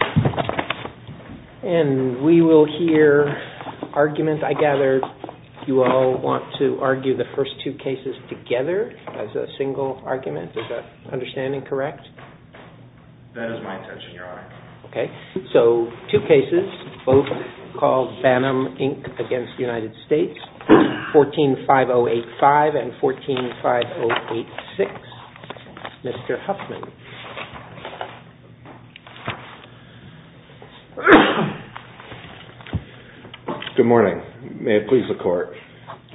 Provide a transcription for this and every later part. And we will hear arguments. I gather you all want to argue the first two cases together as a single argument. Is that understanding correct? That is my intention, Your Honor. Okay, so two cases, both called Bannum, Inc. v. United States, 14-5085 and 14-5086. Mr. Huffman. Good morning. May it please the Court.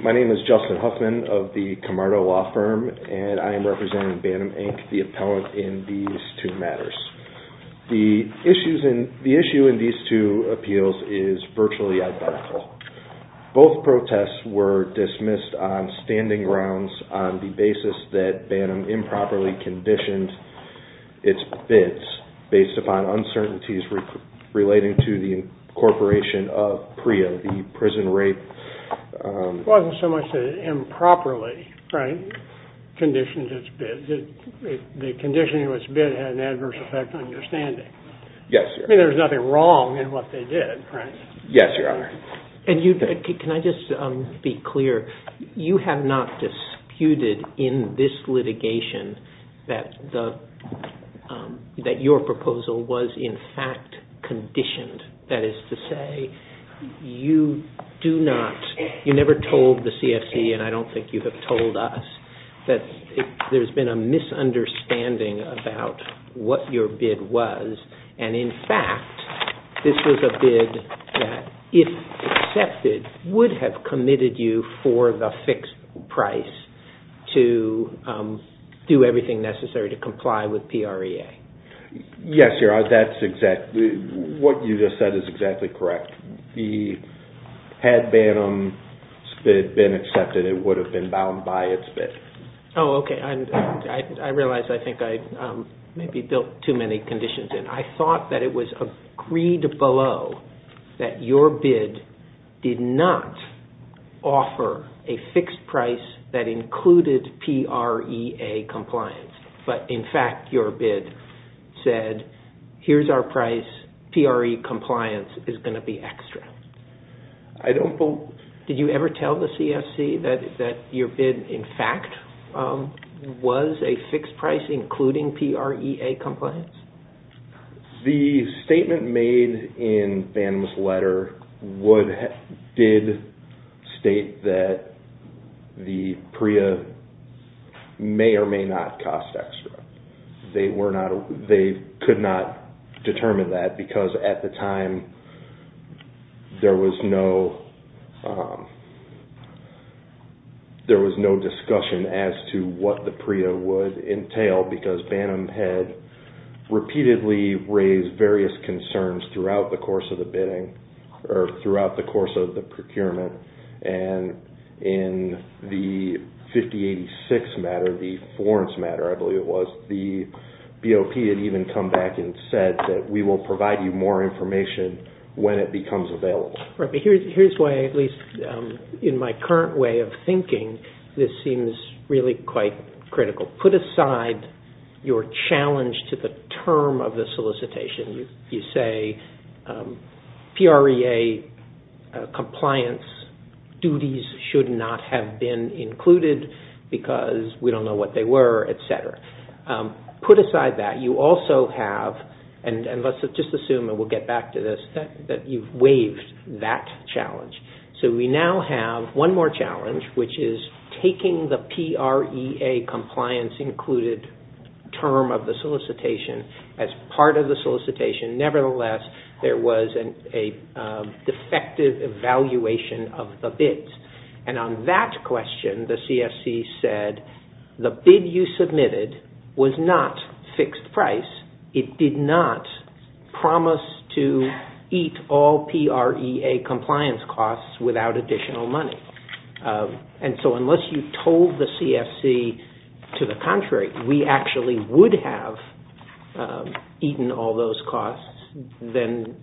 My name is Justin Huffman of the Camargo Law Firm and I am representing Bannum, Inc., the appellant in these two matters. The issue in these two appeals is virtually identical. Both protests were dismissed on standing grounds on the basis that Bannum improperly conditioned its bids based upon uncertainties relating to the incorporation of PREA, the prison rape. It wasn't so much that it improperly, right, conditioned its bid. The conditioning of its bid had an adverse effect on understanding. Yes, Your Honor. I mean, there was nothing wrong in what they did, right? Yes, Your Honor. Can I just be clear? You have not disputed in this litigation that your proposal was in fact conditioned. That is to say, you never told the CFC, and I don't think you have told us, that there has been a misunderstanding about what your bid was. And in fact, this was a bid that, if accepted, would have committed you for the fixed price to do everything necessary to comply with PREA. Yes, Your Honor, that's exactly what you just said is exactly correct. Had Bannum's bid been accepted, it would have been bound by its bid. Oh, okay. I realize I think I maybe built too many conditions in. I thought that it was agreed below that your bid did not offer a fixed price that included PREA compliance, but in fact your bid said, here's our price, PREA compliance is going to be extra. Did you ever tell the CFC that your bid, in fact, was a fixed price including PREA compliance? The statement made in Bannum's letter did state that the PREA may or may not cost extra. They could not determine that because at the time there was no discussion as to what the PREA would entail because Bannum had repeatedly raised various concerns throughout the course of the bidding or throughout the course of the procurement. And in the 5086 matter, the Florence matter, I believe it was, the BOP had even come back and said that we will provide you more information when it becomes available. Here's why, at least in my current way of thinking, this seems really quite critical. Put aside your challenge to the term of the solicitation. You say PREA compliance duties should not have been included because we don't know what they were, etc. Put aside that. You also have, and let's just assume, and we'll get back to this, that you've waived that challenge. So we now have one more challenge, which is taking the PREA compliance included term of the solicitation as part of the solicitation. Nevertheless, there was a defective evaluation of the bids. And on that question, the CFC said the bid you submitted was not fixed price. It did not promise to eat all PREA compliance costs without additional money. And so unless you told the CFC, to the contrary, we actually would have eaten all those costs, then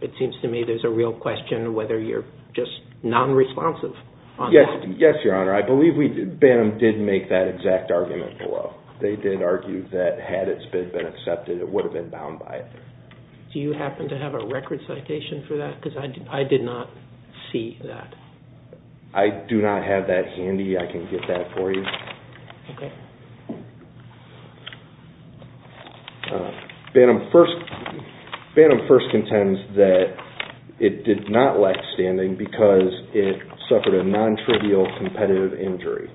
it seems to me there's a real question whether you're just non-responsive on that. Yes, Your Honor. I believe Banham did make that exact argument below. They did argue that had its bid been accepted, it would have been bound by it. Do you happen to have a record citation for that? Because I did not see that. I do not have that handy. I can get that for you. Okay. Banham first contends that it did not lack standing because it suffered a non-trivial competitive injury.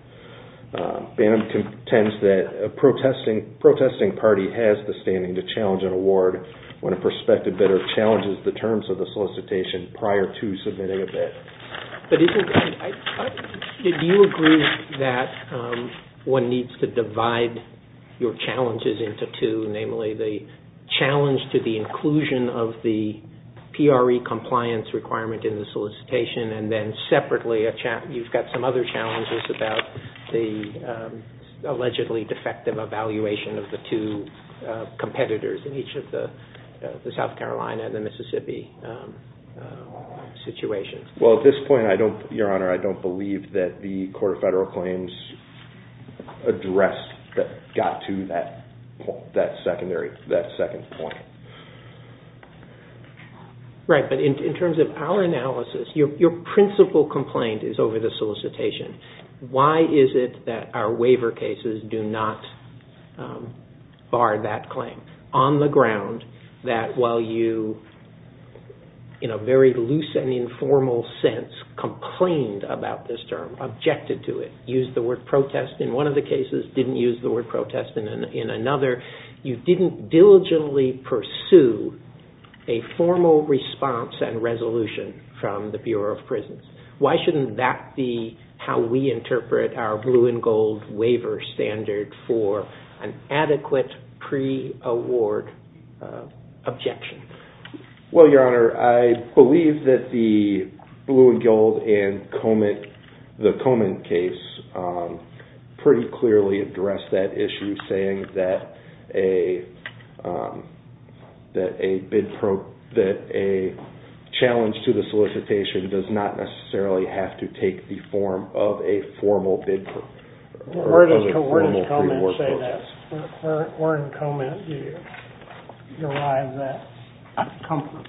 Banham contends that a protesting party has the standing to challenge an award when a prospective bidder challenges the terms of the solicitation prior to submitting a bid. But do you agree that one needs to divide your challenges into two, namely the challenge to the inclusion of the PREA compliance requirement in the solicitation, and then separately you've got some other challenges about the allegedly defective evaluation of the two competitors in each of the South Carolina and the Mississippi situations? Well, at this point, Your Honor, I don't believe that the Court of Federal Claims addressed or got to that second point. Right. But in terms of our analysis, your principal complaint is over the solicitation. Why is it that our waiver cases do not bar that claim on the ground that while you, in a very loose and informal sense, complained about this term, objected to it, used the word protest in one of the cases, didn't use the word protest in another, you didn't diligently pursue a formal response and resolution from the Bureau of Prisons. Why shouldn't that be how we interpret our blue and gold waiver standard for an adequate PREA award objection? Well, Your Honor, I believe that the blue and gold and the Comint case pretty clearly addressed that issue, saying that a challenge to the solicitation does not necessarily have to take the form of a formal bid. Where does Comint say that? Where in Comint do you derive that comfort?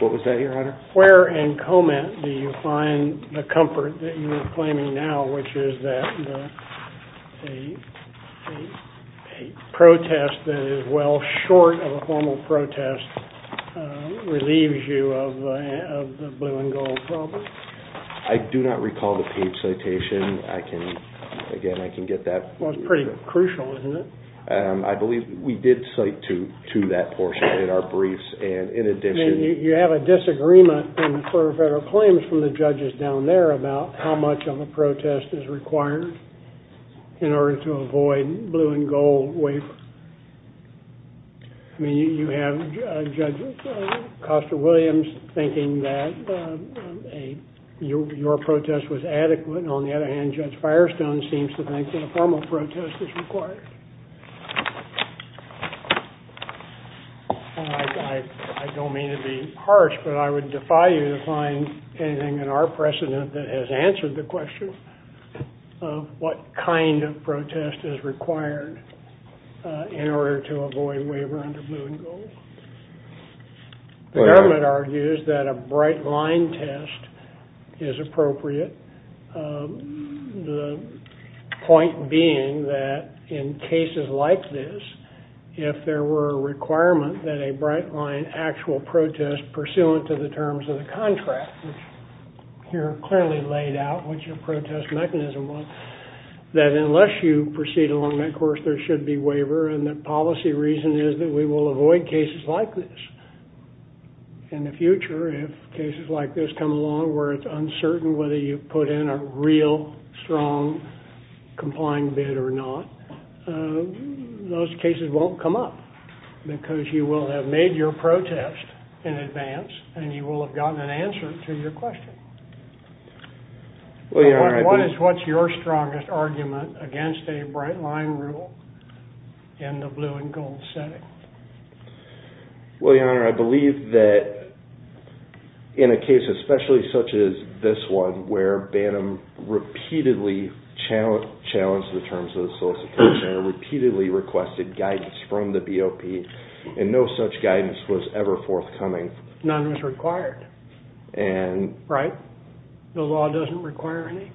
What was that, Your Honor? Where in Comint do you find the comfort that you are claiming now, which is that a protest that is well short of a formal protest relieves you of the blue and gold problem? I do not recall the page citation. I can, again, I can get that. Well, it's pretty crucial, isn't it? I believe we did cite to that portion in our briefs, and in addition... You have a disagreement for federal claims from the judges down there about how much of a protest is required in order to avoid blue and gold waiver. I mean, you have Judge Costa-Williams thinking that your protest was adequate, and on the other hand, Judge Firestone seems to think that a formal protest is required. I don't mean to be harsh, but I would defy you to find anything in our precedent that has answered the question of what kind of protest is required. In order to avoid waiver under blue and gold. The government argues that a bright line test is appropriate, the point being that in cases like this, if there were a requirement that a bright line actual protest pursuant to the terms of the contract, here clearly laid out what your protest mechanism was, that unless you proceed along that course, there should be waiver, and the policy reason is that we will avoid cases like this. In the future, if cases like this come along where it's uncertain whether you put in a real, strong, complying bid or not, those cases won't come up because you will have made your protest in advance and you will have gotten an answer to your question. What is your strongest argument against a bright line rule in the blue and gold setting? Well, Your Honor, I believe that in a case especially such as this one, where Bantam repeatedly challenged the terms of the solicitation and repeatedly requested guidance from the BOP, and no such guidance was ever forthcoming. None was required, right? The law doesn't require any?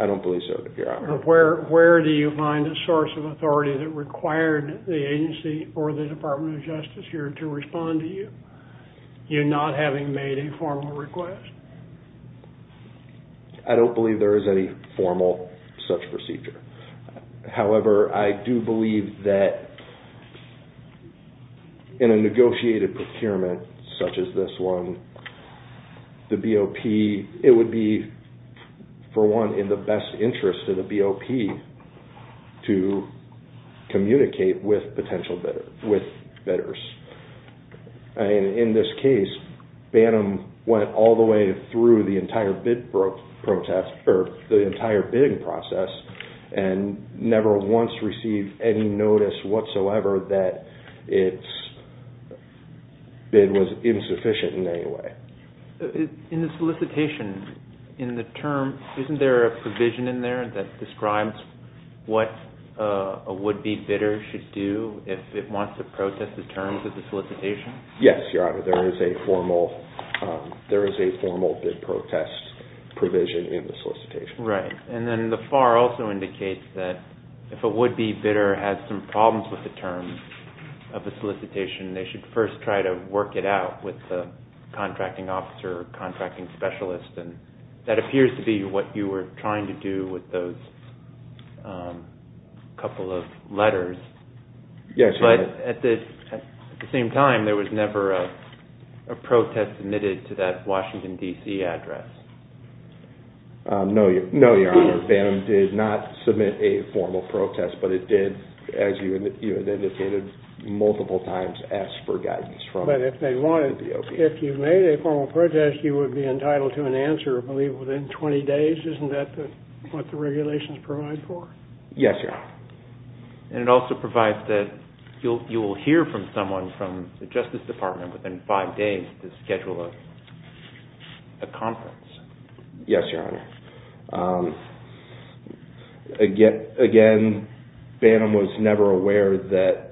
I don't believe so, Your Honor. Where do you find a source of authority that required the agency or the Department of Justice here to respond to you, you not having made a formal request? I don't believe there is any formal such procedure. However, I do believe that in a negotiated procurement such as this one, the BOP, it would be, for one, in the best interest of the BOP to communicate with potential bidders. In this case, Bantam went all the way through the entire bidding process and never once received any notice whatsoever that its bid was insufficient in any way. In the solicitation, isn't there a provision in there that describes what a would-be bidder should do if it wants to protest the terms of the solicitation? Yes, Your Honor. There is a formal bid protest provision in the solicitation. Right. And then the FAR also indicates that if a would-be bidder has some problems with the terms of the solicitation, they should first try to work it out with the contracting officer or contracting specialist. That appears to be what you were trying to do with those couple of letters. Yes, Your Honor. But at the same time, there was never a protest submitted to that Washington, D.C. address. No, Your Honor. Bantam did not submit a formal protest, but it did, as you indicated, multiple times ask for guidance from the BOP. But if they wanted, if you made a formal protest, you would be entitled to an answer, I believe, within 20 days. Isn't that what the regulations provide for? Yes, Your Honor. And it also provides that you will hear from someone from the Justice Department within five days to schedule a conference. Yes, Your Honor. Again, Bantam was never aware that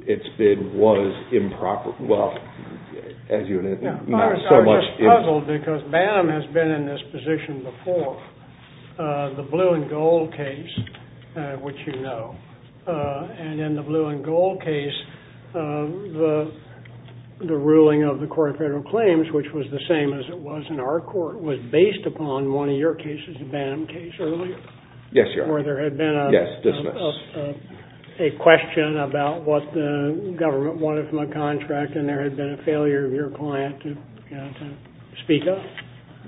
its bid was improper. Well, as you and I know so much. Well, it's puzzled because Bantam has been in this position before, the Blue and Gold case, which you know. And in the Blue and Gold case, the ruling of the Court of Federal Claims, which was the same as it was in our court, was based upon one of your cases, the Bantam case, earlier. Yes, Your Honor. Where there had been a question about what the government wanted from a contract, and there had been a failure of your client to speak up.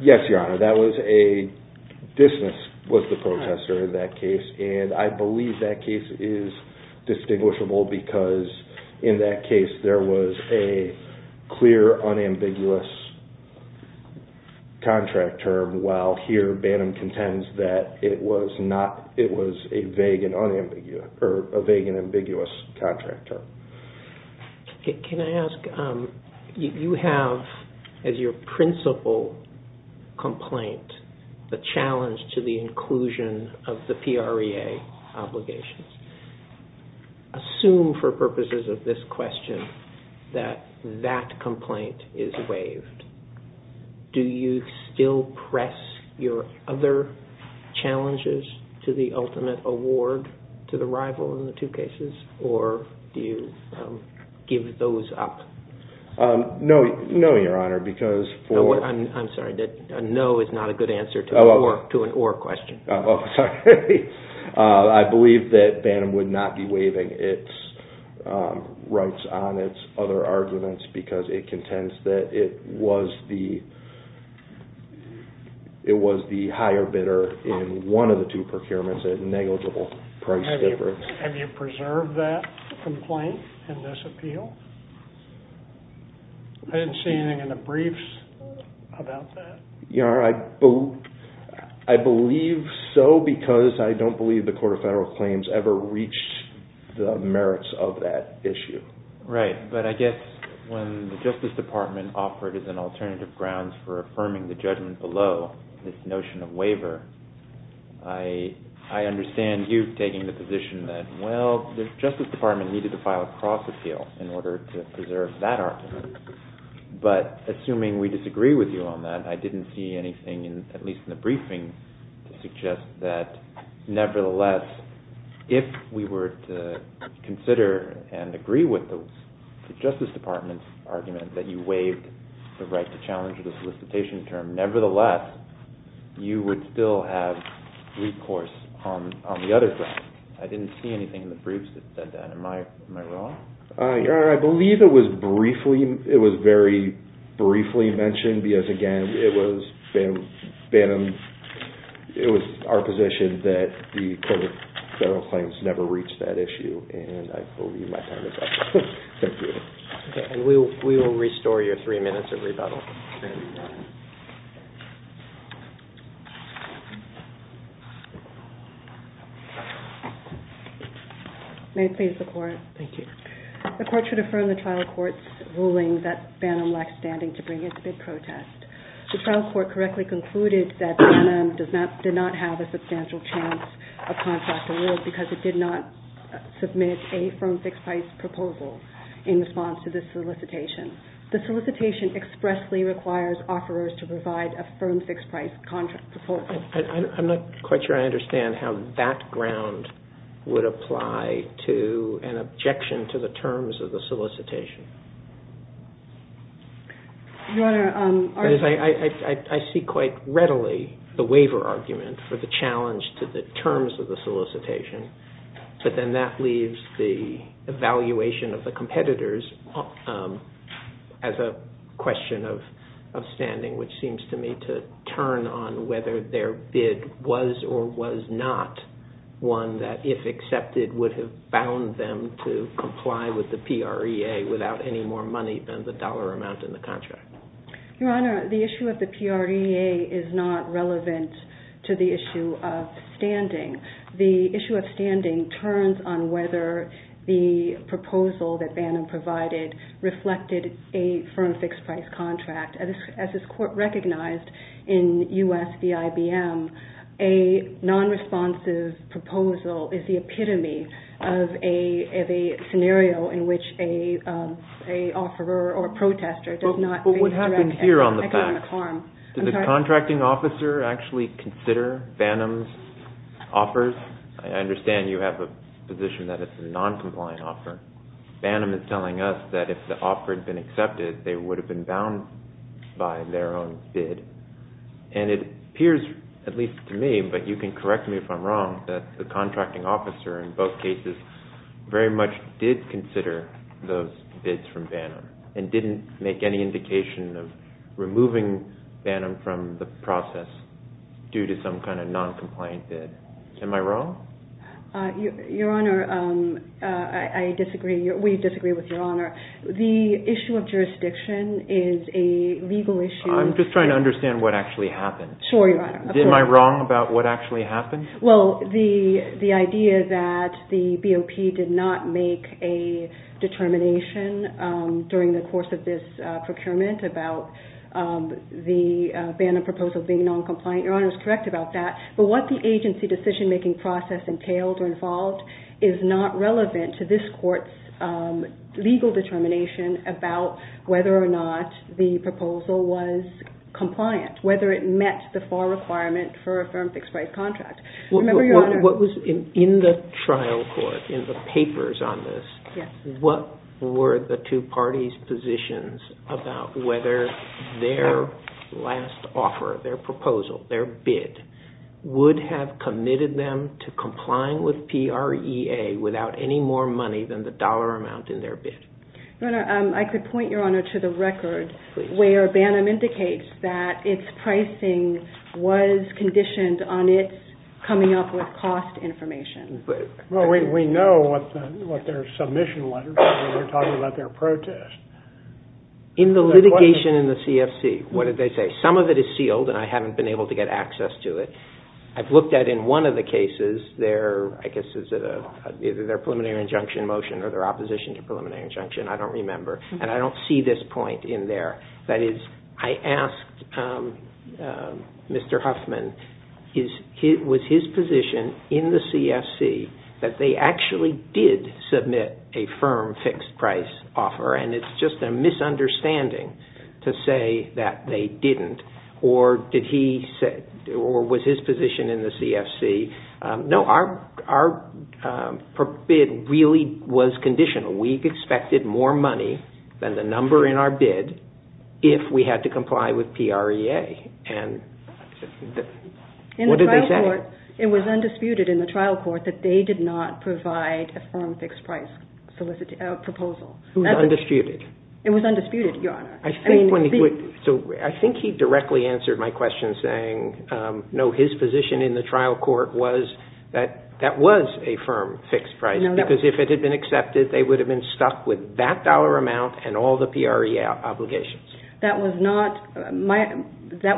Yes, Your Honor. Dismiss was the protester in that case, and I believe that case is distinguishable because in that case there was a clear, unambiguous contract term. And while here Bantam contends that it was a vague and ambiguous contract term. Can I ask, you have, as your principal complaint, the challenge to the inclusion of the PREA obligations. Assume for purposes of this question that that complaint is waived. Do you still press your other challenges to the ultimate award to the rival in the two cases, or do you give those up? No, Your Honor, because for... I'm sorry, a no is not a good answer to an or question. I believe that Bantam would not be waiving its rights on its other arguments because it contends that it was the higher bidder in one of the two procurements at negligible price difference. Have you preserved that complaint in this appeal? I didn't see anything in the briefs about that. Your Honor, I believe so because I don't believe the Court of Federal Claims ever reached the merits of that issue. Right, but I guess when the Justice Department offered as an alternative grounds for affirming the judgment below this notion of waiver, I understand you taking the position that, well, the Justice Department needed to file a cross-appeal in order to preserve that argument. But assuming we disagree with you on that, I didn't see anything, at least in the briefing, to suggest that nevertheless, if we were to consider and agree with the Justice Department's argument that you waived the right to challenge the solicitation term, nevertheless, you would still have recourse on the other side. I didn't see anything in the briefs that said that. Am I wrong? Your Honor, I believe it was very briefly mentioned because, again, it was our position that the Court of Federal Claims never reached that issue. I believe my time is up. Thank you. We will restore your three minutes of rebuttal. May it please the Court. Thank you. The Court should affirm the trial court's ruling that Bannum lacked standing to bring it to bid protest. The trial court correctly concluded that Bannum did not have a substantial chance of contracting wills because it did not submit a firm fixed-price proposal in response to this solicitation. The solicitation expressly requires offerers to provide a firm fixed-price contract proposal. I'm not quite sure I understand how that ground would apply to an objection to the terms of the solicitation. Your Honor, our... I see quite readily the waiver argument for the challenge to the terms of the solicitation. But then that leaves the evaluation of the competitors as a question of standing, which seems to me to turn on whether their bid was or was not one that, if accepted, would have bound them to comply with the PREA without any more money than the dollar amount in the contract. Your Honor, the issue of the PREA is not relevant to the issue of standing. The issue of standing turns on whether the proposal that Bannum provided reflected a firm fixed-price contract. As this Court recognized in U.S. v. IBM, a non-responsive proposal is the epitome of a scenario in which an offeror or a protester does not face direct economic harm. But what happened here on the fact, did the contracting officer actually consider Bannum's offers? I understand you have a position that it's a non-compliant offer. Bannum is telling us that if the offer had been accepted, they would have been bound by their own bid. And it appears, at least to me, but you can correct me if I'm wrong, that the contracting officer in both cases very much did consider those bids from Bannum and didn't make any indication of removing Bannum from the process due to some kind of non-compliant bid. Am I wrong? Your Honor, I disagree. We disagree with Your Honor. The issue of jurisdiction is a legal issue. I'm just trying to understand what actually happened. Sure, Your Honor. Am I wrong about what actually happened? Well, the idea that the BOP did not make a determination during the course of this procurement about the Bannum proposal being non-compliant, Your Honor is correct about that. But what the agency decision-making process entailed or involved is not relevant to this court's legal determination about whether or not the proposal was compliant, whether it met the FAR requirement for a firm fixed-price contract. In the trial court, in the papers on this, what were the two parties' positions about whether their last offer, their proposal, their bid would have committed them to complying with PREA without any more money than the dollar amount in their bid? Your Honor, I could point Your Honor to the record where Bannum indicates that its pricing was conditioned on its coming up with cost information. Well, we know what their submission was when you're talking about their protest. In the litigation in the CFC, what did they say? Some of it is sealed, and I haven't been able to get access to it. I've looked at in one of the cases, I guess it's either their preliminary injunction motion or their opposition to preliminary injunction, I don't remember, and I don't see this point in there. That is, I asked Mr. Huffman, was his position in the CFC that they actually did submit a firm fixed-price offer, and it's just a misunderstanding to say that they didn't, or was his position in the CFC, No, our bid really was conditional. We expected more money than the number in our bid if we had to comply with PREA. In the trial court, it was undisputed in the trial court that they did not provide a firm fixed-price proposal. It was undisputed. It was undisputed, Your Honor. I think he directly answered my question saying, no, his position in the trial court was that that was a firm fixed-price, because if it had been accepted, they would have been stuck with that dollar amount and all the PREA obligations. That was not their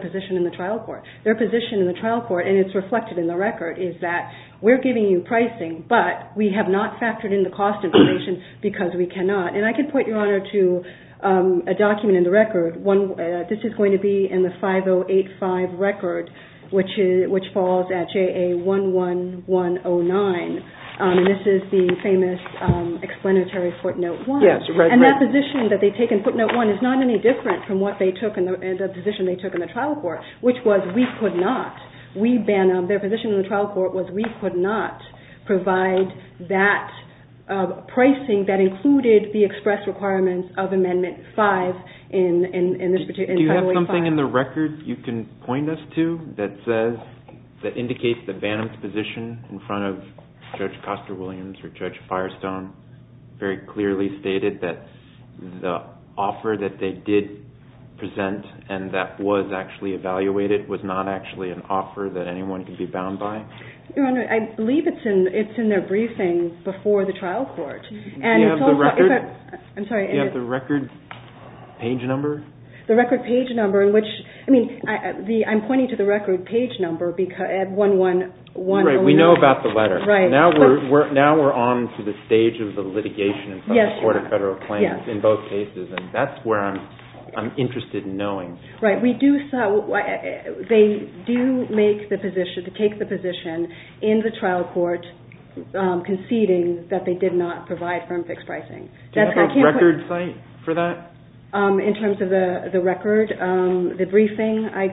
position in the trial court. Their position in the trial court, and it's reflected in the record, is that we're giving you pricing, but we have not factored in the cost information because we cannot. And I can point, Your Honor, to a document in the record. This is going to be in the 5085 record, which falls at JA11109, and this is the famous explanatory footnote one. And that position that they take in footnote one is not any different from what they took in the position they took in the trial court, which was we could not. Their position in the trial court was we could not provide that pricing that included the expressed requirements of Amendment 5 in 5085. Do you have something in the record you can point us to that indicates that Bannum's position in front of Judge Coster-Williams or Judge Firestone very clearly stated that the offer that they did present and that was actually evaluated was not actually an offer that anyone could be bound by? Your Honor, I believe it's in their briefing before the trial court. Do you have the record page number? I'm pointing to the record page number at 11109. Right. We know about the letter. Now we're on to the stage of the litigation in front of the Court of Federal Claims in both cases, and that's where I'm interested in knowing. Right. They do take the position in the trial court conceding that they did not provide firm fixed pricing. Do you have a record site for that? In terms of the record, the briefing, I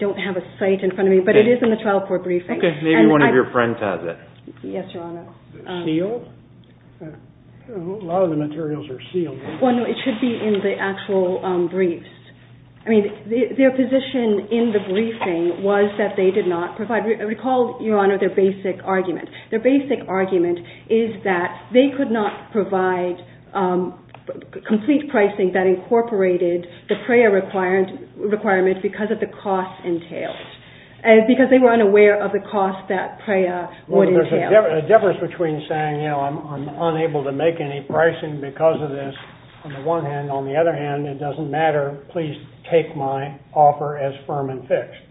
don't have a site in front of me, but it is in the trial court briefing. Okay. Maybe one of your friends has it. Yes, Your Honor. Sealed? A lot of the materials are sealed. Well, no, it should be in the actual briefs. I mean, their position in the briefing was that they did not provide, recall, Your Honor, their basic argument. Their basic argument is that they could not provide complete pricing that incorporated the PREA requirement because of the cost entailed. Because they were unaware of the cost that PREA would entail. The difference between saying, you know, I'm unable to make any pricing because of this, on the one hand. On the other hand, it doesn't matter. Please take my offer as firm and fixed.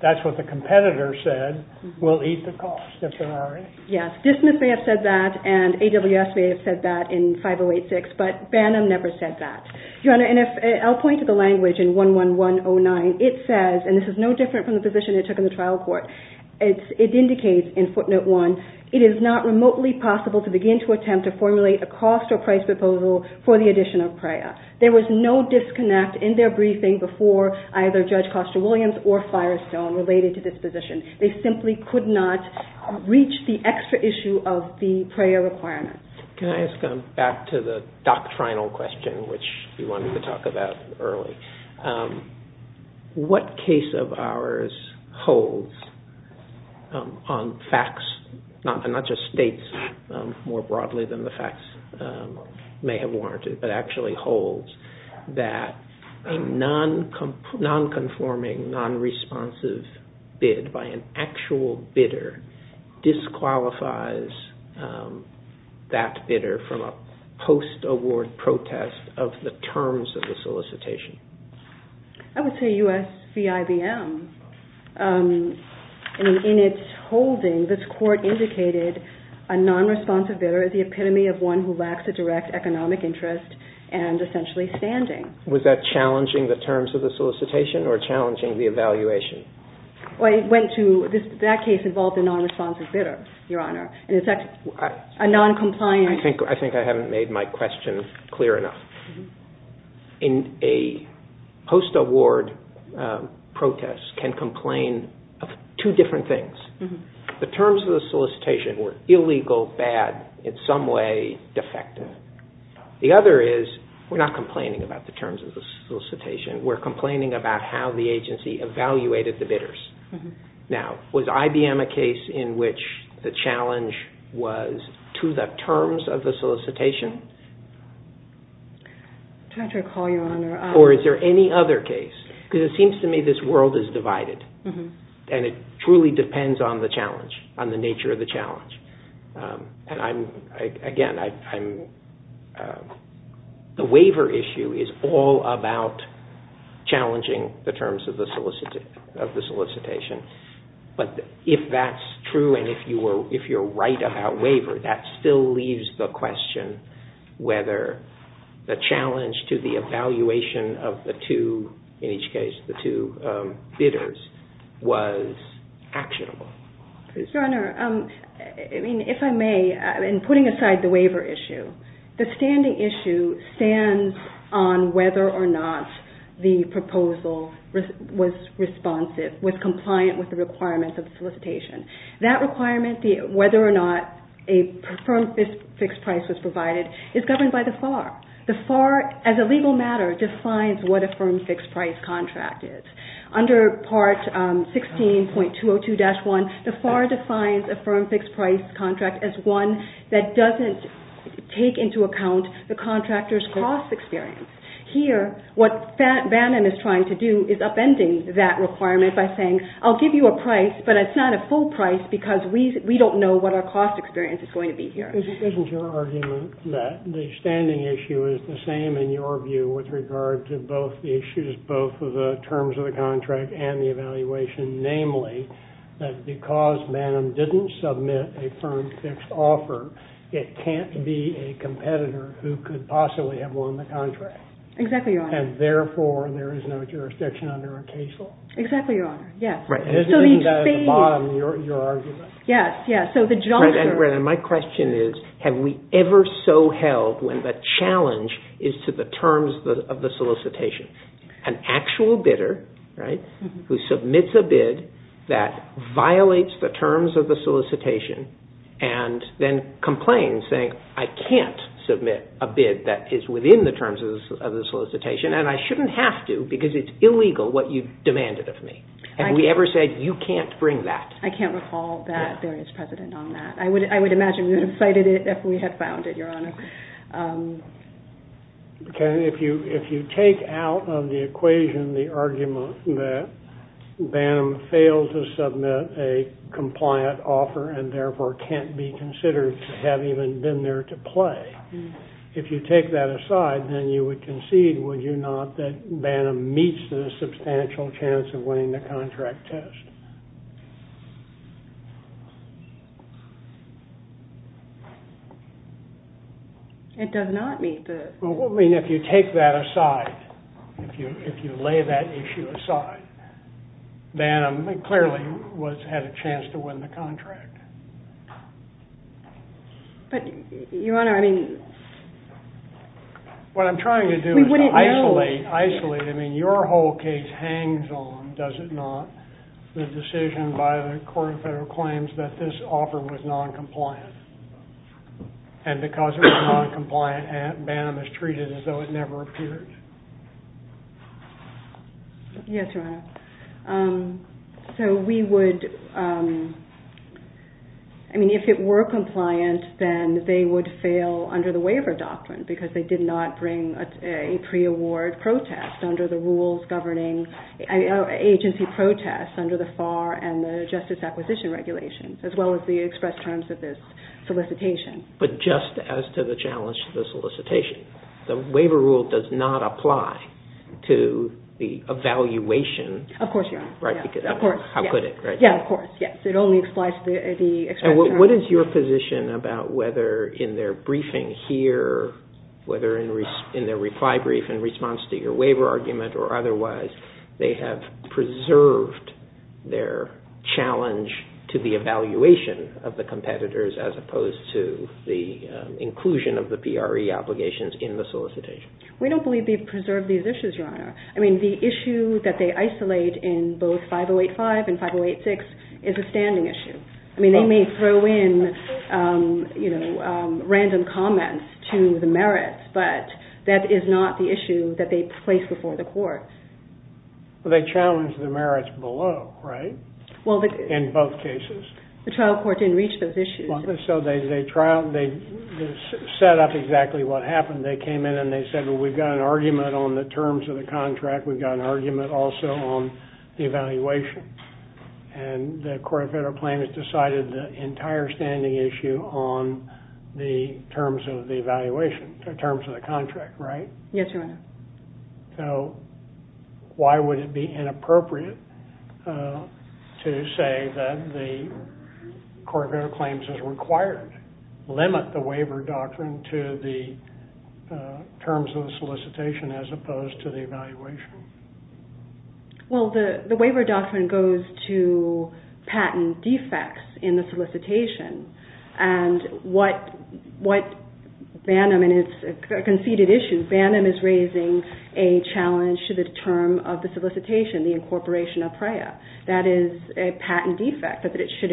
That's what the competitor said. We'll eat the cost if there are any. Yes. Dismiss may have said that, and AWS may have said that in 5086, but Bannum never said that. Your Honor, and I'll point to the language in 11109. It says, and this is no different from the position it took in the trial court, it indicates in footnote one, it is not remotely possible to begin to attempt to formulate a cost or price proposal for the addition of PREA. There was no disconnect in their briefing before either Judge Costa-Williams or Firestone related to this position. They simply could not reach the extra issue of the PREA requirement. Can I just go back to the doctrinal question, which you wanted to talk about early? What case of ours holds on facts, and not just states more broadly than the facts may have warranted, but actually holds that a non-conforming, non-responsive bid by an actual bidder disqualifies that bidder from a post-award protest of the terms of the solicitation? I would say U.S. v. IBM. In its holding, this court indicated a non-responsive bidder as the epitome of one who lacks a direct economic interest and essentially standing. Was that challenging the terms of the solicitation or challenging the evaluation? That case involved a non-responsive bidder, Your Honor. I think I haven't made my question clear enough. A post-award protest can complain of two different things. The terms of the solicitation were illegal, bad, in some way defective. The other is, we're not complaining about the terms of the solicitation. We're complaining about how the agency evaluated the bidders. Now, was IBM a case in which the challenge was to the terms of the solicitation? I'm trying to recall, Your Honor. Or is there any other case? Because it seems to me this world is divided, and it truly depends on the challenge, on the nature of the challenge. And again, the waiver issue is all about challenging the terms of the solicitation. But if that's true and if you're right about waiver, that still leaves the question whether the challenge to the evaluation of the two bidders was actionable. Your Honor, if I may, in putting aside the waiver issue, the standing issue stands on whether or not the proposal was responsive, was compliant with the requirements of the solicitation. That requirement, whether or not a firm fixed price was provided, is governed by the FAR. The FAR, as a legal matter, defines what a firm fixed price contract is. Under Part 16.202-1, the FAR defines a firm fixed price contract as one that doesn't take into account the contractor's cost experience. Here, what Bannon is trying to do is upending that requirement by saying, I'll give you a price, but it's not a full price because we don't know what our cost experience is going to be here. Isn't your argument that the standing issue is the same in your view with regard to both the issues, both of the terms of the contract and the evaluation? Namely, that because Bannon didn't submit a firm fixed offer, it can't be a competitor who could possibly have won the contract? Exactly, Your Honor. And therefore, there is no jurisdiction under a case law? Exactly, Your Honor. Yes. Isn't that at the bottom of your argument? Yes, yes. So the juncture... My question is, have we ever so held when the challenge is to the terms of the solicitation, an actual bidder, right, who submits a bid that violates the terms of the solicitation and then complains, saying, I can't submit a bid that is within the terms of the solicitation and I shouldn't have to because it's illegal what you demanded of me. Have we ever said, you can't bring that? I can't recall that there is precedent on that. I would imagine we would have cited it if we had found it, Your Honor. If you take out of the equation the argument that Bannon failed to submit a compliant offer and therefore can't be considered to have even been there to play, if you take that aside, then you would concede, would you not, that Bannon meets the substantial chance of winning the contract test? It does not meet the... Well, what would it mean if you take that aside, if you lay that issue aside? Bannon clearly had a chance to win the contract. But, Your Honor, I mean... What I'm trying to do is to isolate, isolate. I mean, your whole case hangs on, does it not, the decision by the Court of Federal Claims that this offer was non-compliant? And because it was non-compliant, Bannon was treated as though it never appeared? Yes, Your Honor. So we would, I mean, if it were compliant, then they would fail under the waiver doctrine because they did not bring a pre-award protest under the rules governing agency protests under the FAR and the Justice Acquisition Regulations, as well as the express terms of this solicitation. But just as to the challenge to the solicitation, the waiver rule does not apply to the evaluation... Of course, Your Honor. How could it, right? Yes, of course. It only applies to the express terms. What is your position about whether in their briefing here, whether in their reply brief in response to your waiver argument or otherwise, they have preserved their challenge to the evaluation of the competitors as opposed to the inclusion of the PRE obligations in the solicitation? We don't believe they've preserved these issues, Your Honor. I mean, the issue that they isolate in both 5085 and 5086 is a standing issue. I mean, they may throw in, you know, random comments to the merits, but that is not the issue that they place before the court. Well, they challenge the merits below, right? Well, the... In both cases. The trial court didn't reach those issues. So they trial, they set up exactly what happened. They came in and they said, well, we've got an argument on the terms of the contract. We've got an argument also on the evaluation. And the Court of Federal Claims decided the entire standing issue on the terms of the evaluation, the terms of the contract, right? Yes, Your Honor. So why would it be inappropriate to say that the Court of Federal Claims has required, limit the waiver doctrine to the terms of the solicitation as opposed to the evaluation? Well, the waiver doctrine goes to patent defects in the solicitation. And what Bannum, and it's a conceded issue, Bannum is raising a challenge to the term of the solicitation, the incorporation of PREA. That is a patent defect, but it should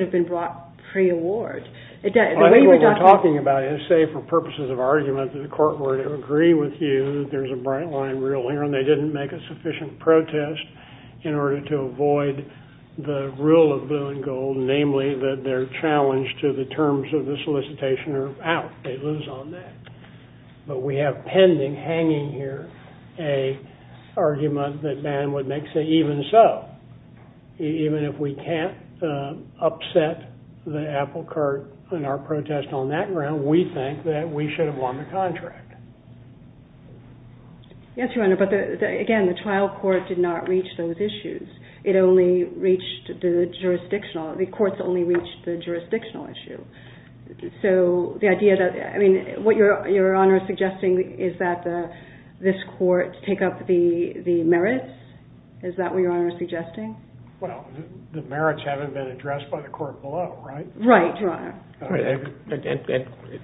have been brought pre-award. The waiver doctrine... I think what we're talking about is, say, for purposes of argument, the Court were to agree with you that there's a bright line rule here, and they didn't make a sufficient protest in order to avoid the rule of blue and gold, namely that they're challenged to the terms of the solicitation or out. They lose on that. But we have pending, hanging here, an argument that Bannum would make, say, even so, even if we can't upset the apple cart in our protest on that ground, we think that we should have won the contract. Yes, Your Honor, but, again, the trial court did not reach those issues. It only reached the jurisdictional. The courts only reached the jurisdictional issue. So the idea that, I mean, what Your Honor is suggesting is that this court take up the merits? Is that what Your Honor is suggesting? Well, the merits haven't been addressed by the court below, right? Right, Your Honor.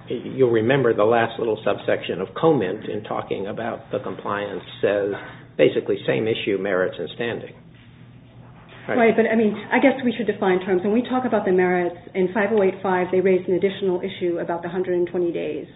You'll remember the last little subsection of comment in talking about the compliance says basically same issue, merits, and standing. Right, but, I mean, I guess we should define terms. When we talk about the merits, in 5085, they raised an additional issue about the 120 days,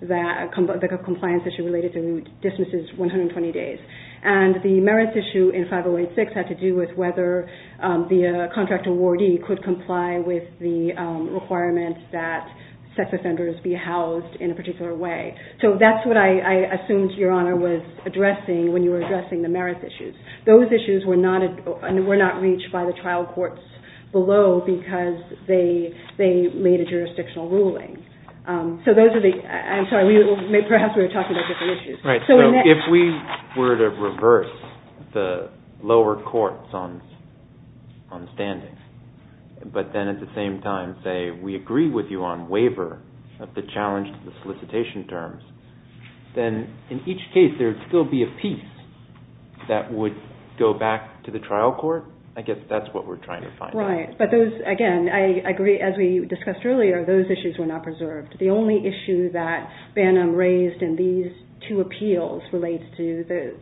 the compliance issue related to distances, 120 days. And the merits issue in 5086 had to do with whether the contract awardee could comply with the requirements that sex offenders be housed in a particular way. So that's what I assumed Your Honor was addressing when you were addressing the merits issues. Those issues were not reached by the trial courts below because they made a jurisdictional ruling. So those are the, I'm sorry, perhaps we were talking about different issues. Right, so if we were to reverse the lower courts on standing, but then at the same time say we agree with you on waiver of the challenge to the solicitation terms, then in each case there would still be a piece that would go back to the trial court? I guess that's what we're trying to find. Right, but those, again, I agree as we discussed earlier, those issues were not preserved. The only issue that Bannum raised in these two appeals relates to the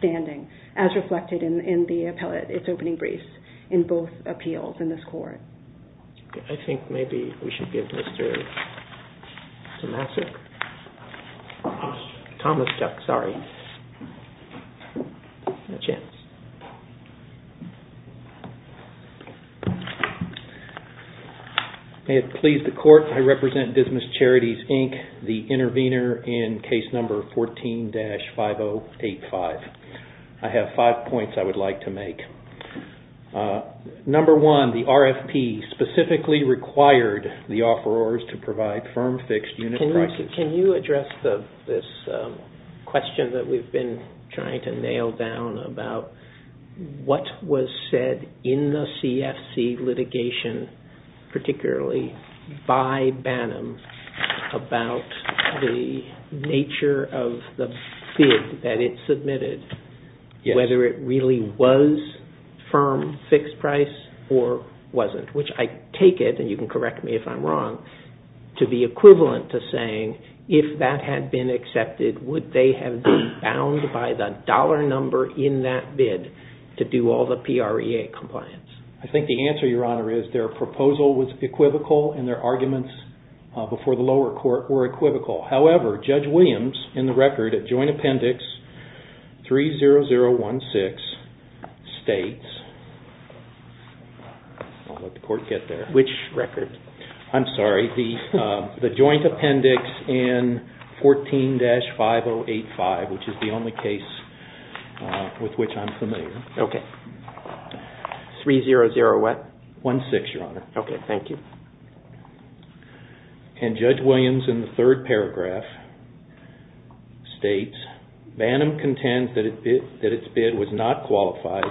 standing, as reflected in the appellate, its opening briefs in both appeals in this court. I think maybe we should give Mr. Tomasek, Thomas Duck, sorry, a chance. May it please the court, I represent Dismissed Charities, Inc., the intervener in case number 14-5085. I have five points I would like to make. Number one, the RFP specifically required the offerors to provide firm fixed unit prices. Can you address this question that we've been trying to nail down about what was said in the CFC litigation, particularly by Bannum about the nature of the bid that it submitted, whether it really was firm fixed price or wasn't, which I take it, and you can correct me if I'm wrong, to be equivalent to saying if that had been accepted, would they have been bound by the dollar number in that bid to do all the PREA compliance? I think the answer, Your Honor, is their proposal was equivocal and their arguments before the lower court were equivocal. However, Judge Williams in the record at joint appendix 30016 states, I'll let the court get there. Which record? I'm sorry, the joint appendix in 14-5085, which is the only case with which I'm familiar. Okay. 300 what? One-sixth, Your Honor. Okay, thank you. And Judge Williams in the third paragraph states, Bannum contends that its bid was not qualified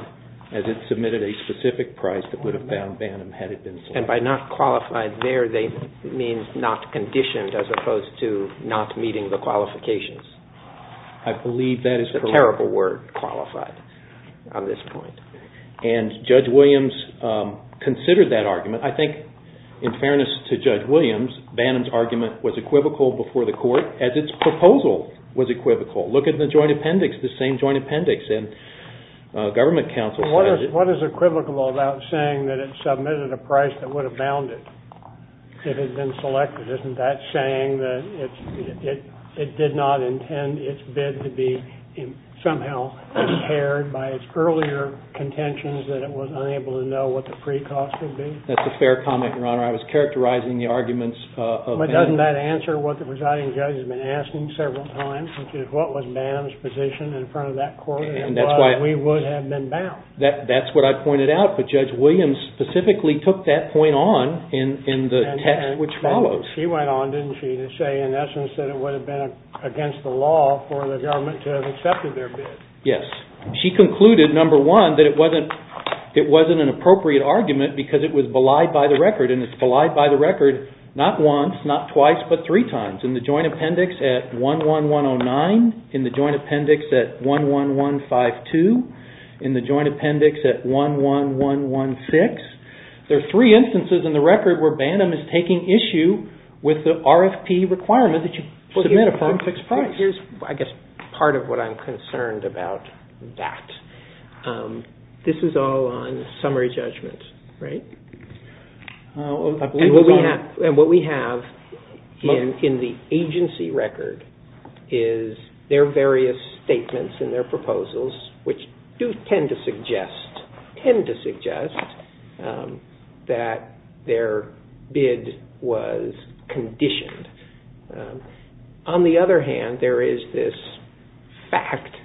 as it submitted a specific price that would have bound Bannum had it been selected. And by not qualified there, they mean not conditioned as opposed to not meeting the qualifications. I believe that is correct. It's a terrible word, qualified, on this point. And Judge Williams considered that argument. I think, in fairness to Judge Williams, Bannum's argument was equivocal before the court as its proposal was equivocal. Look at the joint appendix, the same joint appendix in government counsel. What is equivocal about saying that it submitted a price that would have bound it if it had been selected? Isn't that saying that it did not intend its bid to be somehow impaired by its earlier contentions that it was unable to know what the PREA cost would be? That's a fair comment, Your Honor. I was characterizing the arguments of Bannum. But doesn't that answer what the presiding judge has been asking several times, which is what was Bannum's position in front of that court and why we would have been bound? That's what I pointed out. But Judge Williams specifically took that point on in the text which follows. She went on, didn't she, to say, in essence, that it would have been against the law for the government to have accepted their bid. Yes. She concluded, number one, that it wasn't an appropriate argument because it was belied by the record. And it's belied by the record not once, not twice, but three times. In the joint appendix at 11109, in the joint appendix at 11152, in the joint appendix at 11116. There are three instances in the record where Bannum is taking issue with the RFP requirement that you submit a firm-fixed price. Here's, I guess, part of what I'm concerned about that. This is all on summary judgment, right? And what we have in the agency record is their various statements in their proposals, which do tend to suggest that their bid was conditioned. On the other hand, there is this fact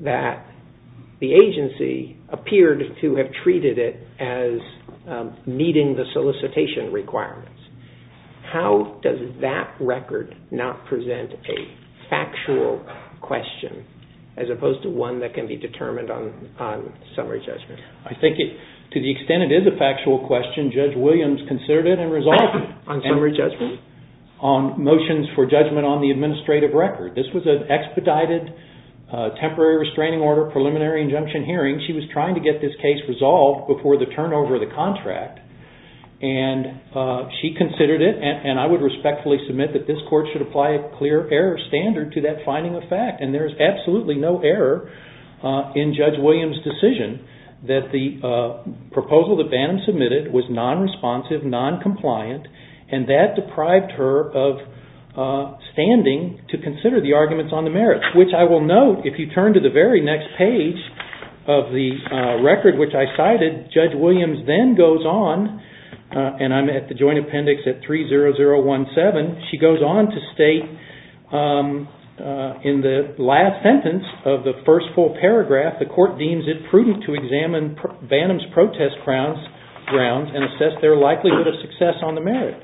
that the agency appeared to have treated it as meeting the solicitation requirements. How does that record not present a factual question as opposed to one that can be determined on summary judgment? I think to the extent it is a factual question, Judge Williams considered it and resolved it. On summary judgment? On motions for judgment on the administrative record. This was an expedited temporary restraining order preliminary injunction hearing. She was trying to get this case resolved before the turnover of the contract. And she considered it, and I would respectfully submit that this court should apply a clear error standard to that finding of fact. And there is absolutely no error in Judge Williams' decision that the proposal that Bannum submitted was non-responsive, non-compliant, and that deprived her of standing to consider the arguments on the merits. Which I will note, if you turn to the very next page of the record which I cited, Judge Williams then goes on, and I'm at the joint appendix at 30017, she goes on to state in the last sentence of the first full paragraph, the court deems it prudent to examine Bannum's protest grounds and assess their likelihood of success on the merit.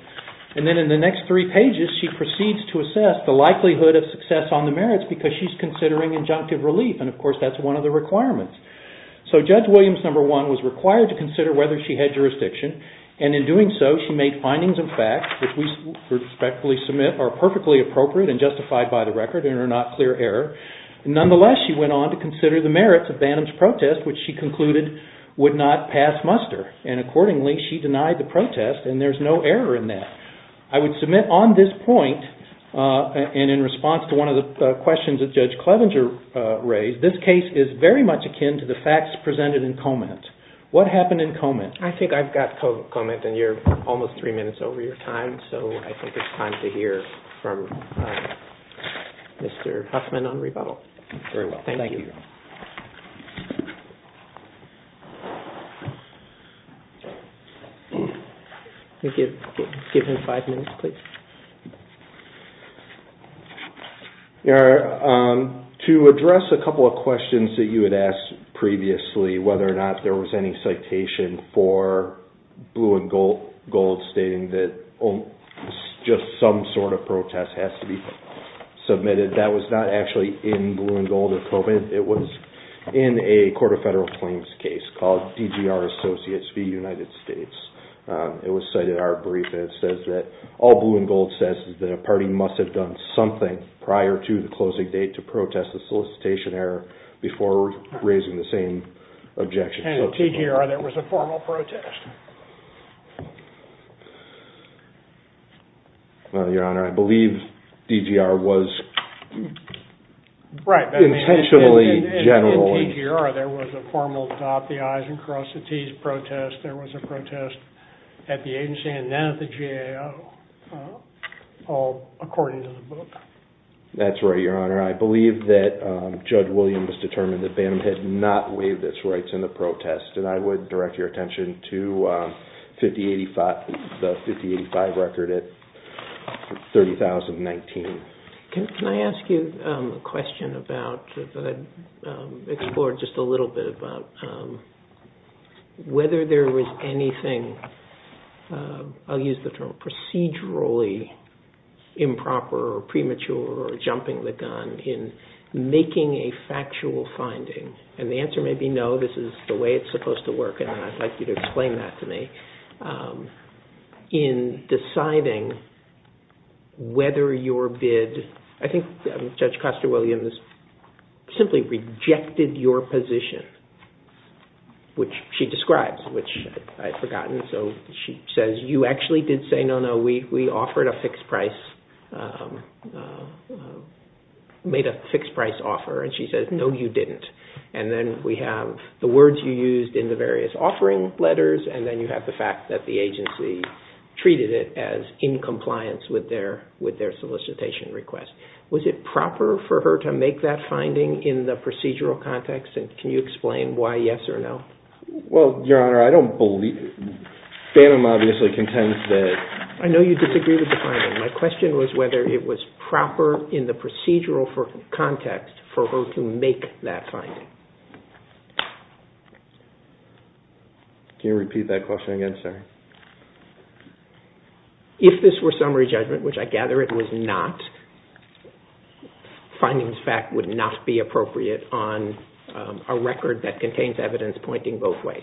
And then in the next three pages she proceeds to assess the likelihood of success on the merits because she's considering injunctive relief, and of course that's one of the requirements. So Judge Williams, number one, was required to consider whether she had jurisdiction, and in doing so she made findings of fact which we respectfully submit are perfectly appropriate and justified by the record and are not clear error. Nonetheless she went on to consider the merits of Bannum's protest which she concluded would not pass muster. And accordingly she denied the protest, and there's no error in that. I would submit on this point, and in response to one of the questions that Judge Clevenger raised, this case is very much akin to the facts presented in Comet. What happened in Comet? I think I've got Comet, and you're almost three minutes over your time, so I think it's time to hear from Mr. Huffman on rebuttal. Very well, thank you. Thank you. Thank you. Give him five minutes, please. To address a couple of questions that you had asked previously, whether or not there was any citation for Blue and Gold stating that just some sort of protest has to be submitted, that was not actually in Blue and Gold or Comet. It was in a Court of Federal Claims case called DGR Associates v. United States. It was cited in our brief, and it says that all Blue and Gold says is that a party must have done something prior to the closing date to protest the solicitation error before raising the same objection. In DGR there was a formal protest. Well, Your Honor, I believe DGR was intentionally general. Right. In DGR there was a formal Stop the Eyes and Cross the Teeth protest. There was a protest at the agency and then at the GAO, all according to the book. That's right, Your Honor. I believe that Judge Williams determined that Bantam had not waived its rights in the protest, and I would direct your attention to the 5085 record at 30,019. Can I ask you a question that I explored just a little bit about whether there was anything, I'll use the term procedurally improper or premature or jumping the gun, in making a factual finding? And the answer may be no, this is the way it's supposed to work, and I'd like you to explain that to me. In deciding whether your bid, I think Judge Custer-Williams simply rejected your position, which she describes, which I'd forgotten. So she says, you actually did say no, no, we offered a fixed price, made a fixed price offer, and she says, no, you didn't. And then we have the words you used in the various offering letters, and then you have the fact that the agency treated it as in compliance with their solicitation request. Was it proper for her to make that finding in the procedural context, and can you explain why yes or no? Well, Your Honor, I don't believe, Bantam obviously contends that. I know you disagree with the finding. My question was whether it was proper in the procedural context for her to make that finding. Can you repeat that question again, sorry? If this were summary judgment, which I gather it was not, findings fact would not be appropriate on a record that contains evidence pointing both ways.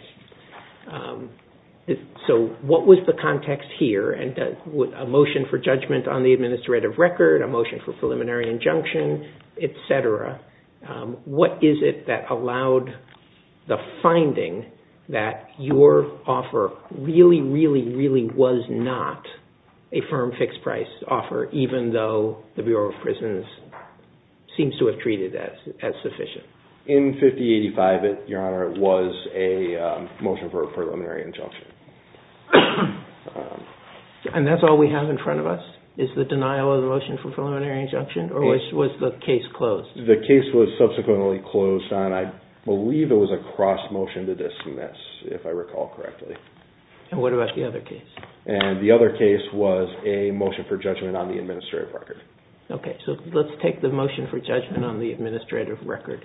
So what was the context here? A motion for judgment on the administrative record, a motion for preliminary injunction, et cetera. What is it that allowed the finding that your offer really, really, really was not a firm fixed price offer, even though the Bureau of Prisons seems to have treated that as sufficient? In 5085, Your Honor, it was a motion for preliminary injunction. And that's all we have in front of us, is the denial of the motion for preliminary injunction, or was the case closed? The case was subsequently closed on, I believe it was a cross motion to dismiss, if I recall correctly. And what about the other case? And the other case was a motion for judgment on the administrative record. Okay, so let's take the motion for judgment on the administrative record.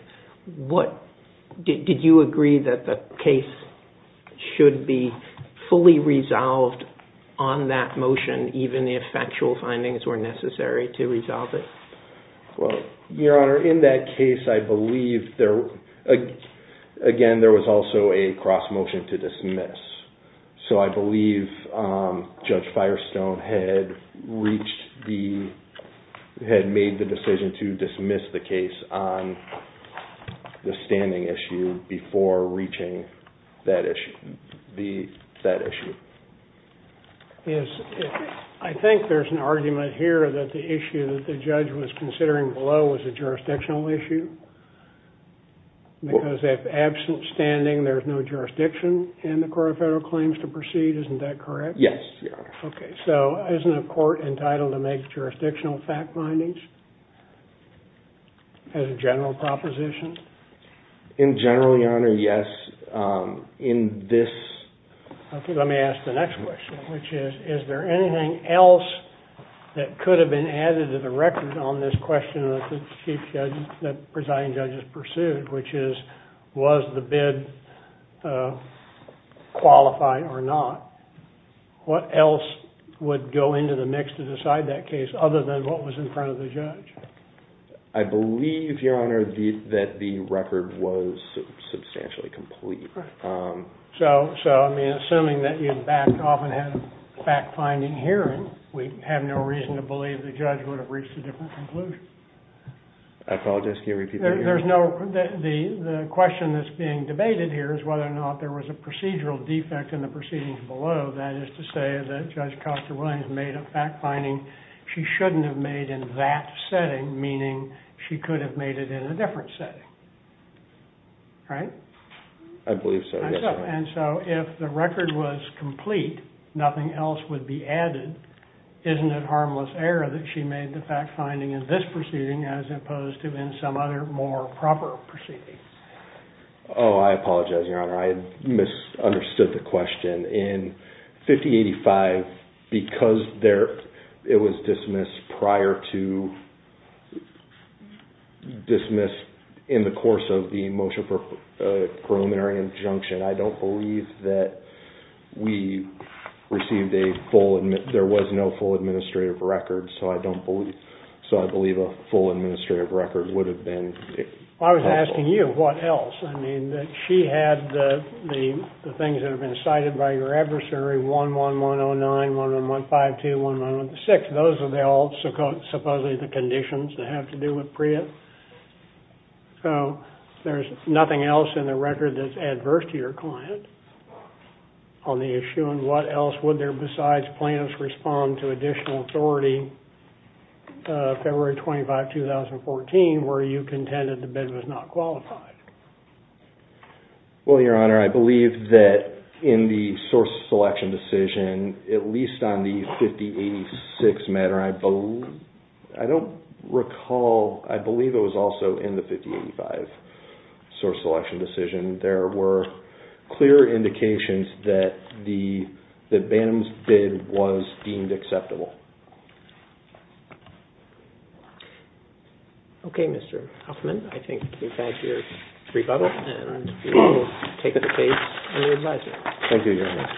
Did you agree that the case should be fully resolved on that motion, even if factual findings were necessary to resolve it? Well, Your Honor, in that case, I believe, again, there was also a cross motion to dismiss. So I believe Judge Firestone had made the decision to dismiss the case on the standing issue before reaching that issue. I think there's an argument here that the issue that the judge was considering below was a jurisdictional issue. Because if absent standing, there's no jurisdiction in the Court of Federal Claims to proceed. Isn't that correct? Yes, Your Honor. Okay, so isn't a court entitled to make jurisdictional fact findings as a general proposition? In general, Your Honor, yes. Okay, let me ask the next question, which is, is there anything else that could have been added to the record on this question that the presiding judge has pursued, which is, was the bid qualified or not? What else would go into the mix to decide that case other than what was in front of the judge? I believe, Your Honor, that the record was substantially complete. So, I mean, assuming that you backed off and had a fact finding hearing, we have no reason to believe the judge would have reached a different conclusion. I apologize, can you repeat that? There's no, the question that's being debated here is whether or not there was a procedural defect in the proceedings below. That is to say that Judge Costa-Williams made a fact finding she shouldn't have made in that setting, meaning she could have made it in a different setting, right? I believe so, yes, Your Honor. And so if the record was complete, nothing else would be added. Isn't it harmless error that she made the fact finding in this proceeding as opposed to in some other more proper proceeding? Oh, I apologize, Your Honor, I misunderstood the question. In 5085, because it was dismissed prior to, dismissed in the course of the motion for a preliminary injunction, I don't believe that we received a full, there was no full administrative record, so I don't believe, so I believe a full administrative record would have been possible. I was asking you, what else? I mean, that she had the things that have been cited by your adversary, 11109, 11152, 11106, those are all supposedly the conditions that have to do with Priya. So there's nothing else in the record that's adverse to your client on the issue, and what else would there besides plaintiffs respond to additional authority February 25, 2014, were you content that the bid was not qualified? Well, Your Honor, I believe that in the source selection decision, at least on the 5086 matter, I don't recall, I believe it was also in the 5085 source selection decision. There were clear indications that Bannum's bid was deemed acceptable. Okay, Mr. Huffman, I think we've had your rebuttal, and we will take the case to the advisor. Thank you, Your Honor.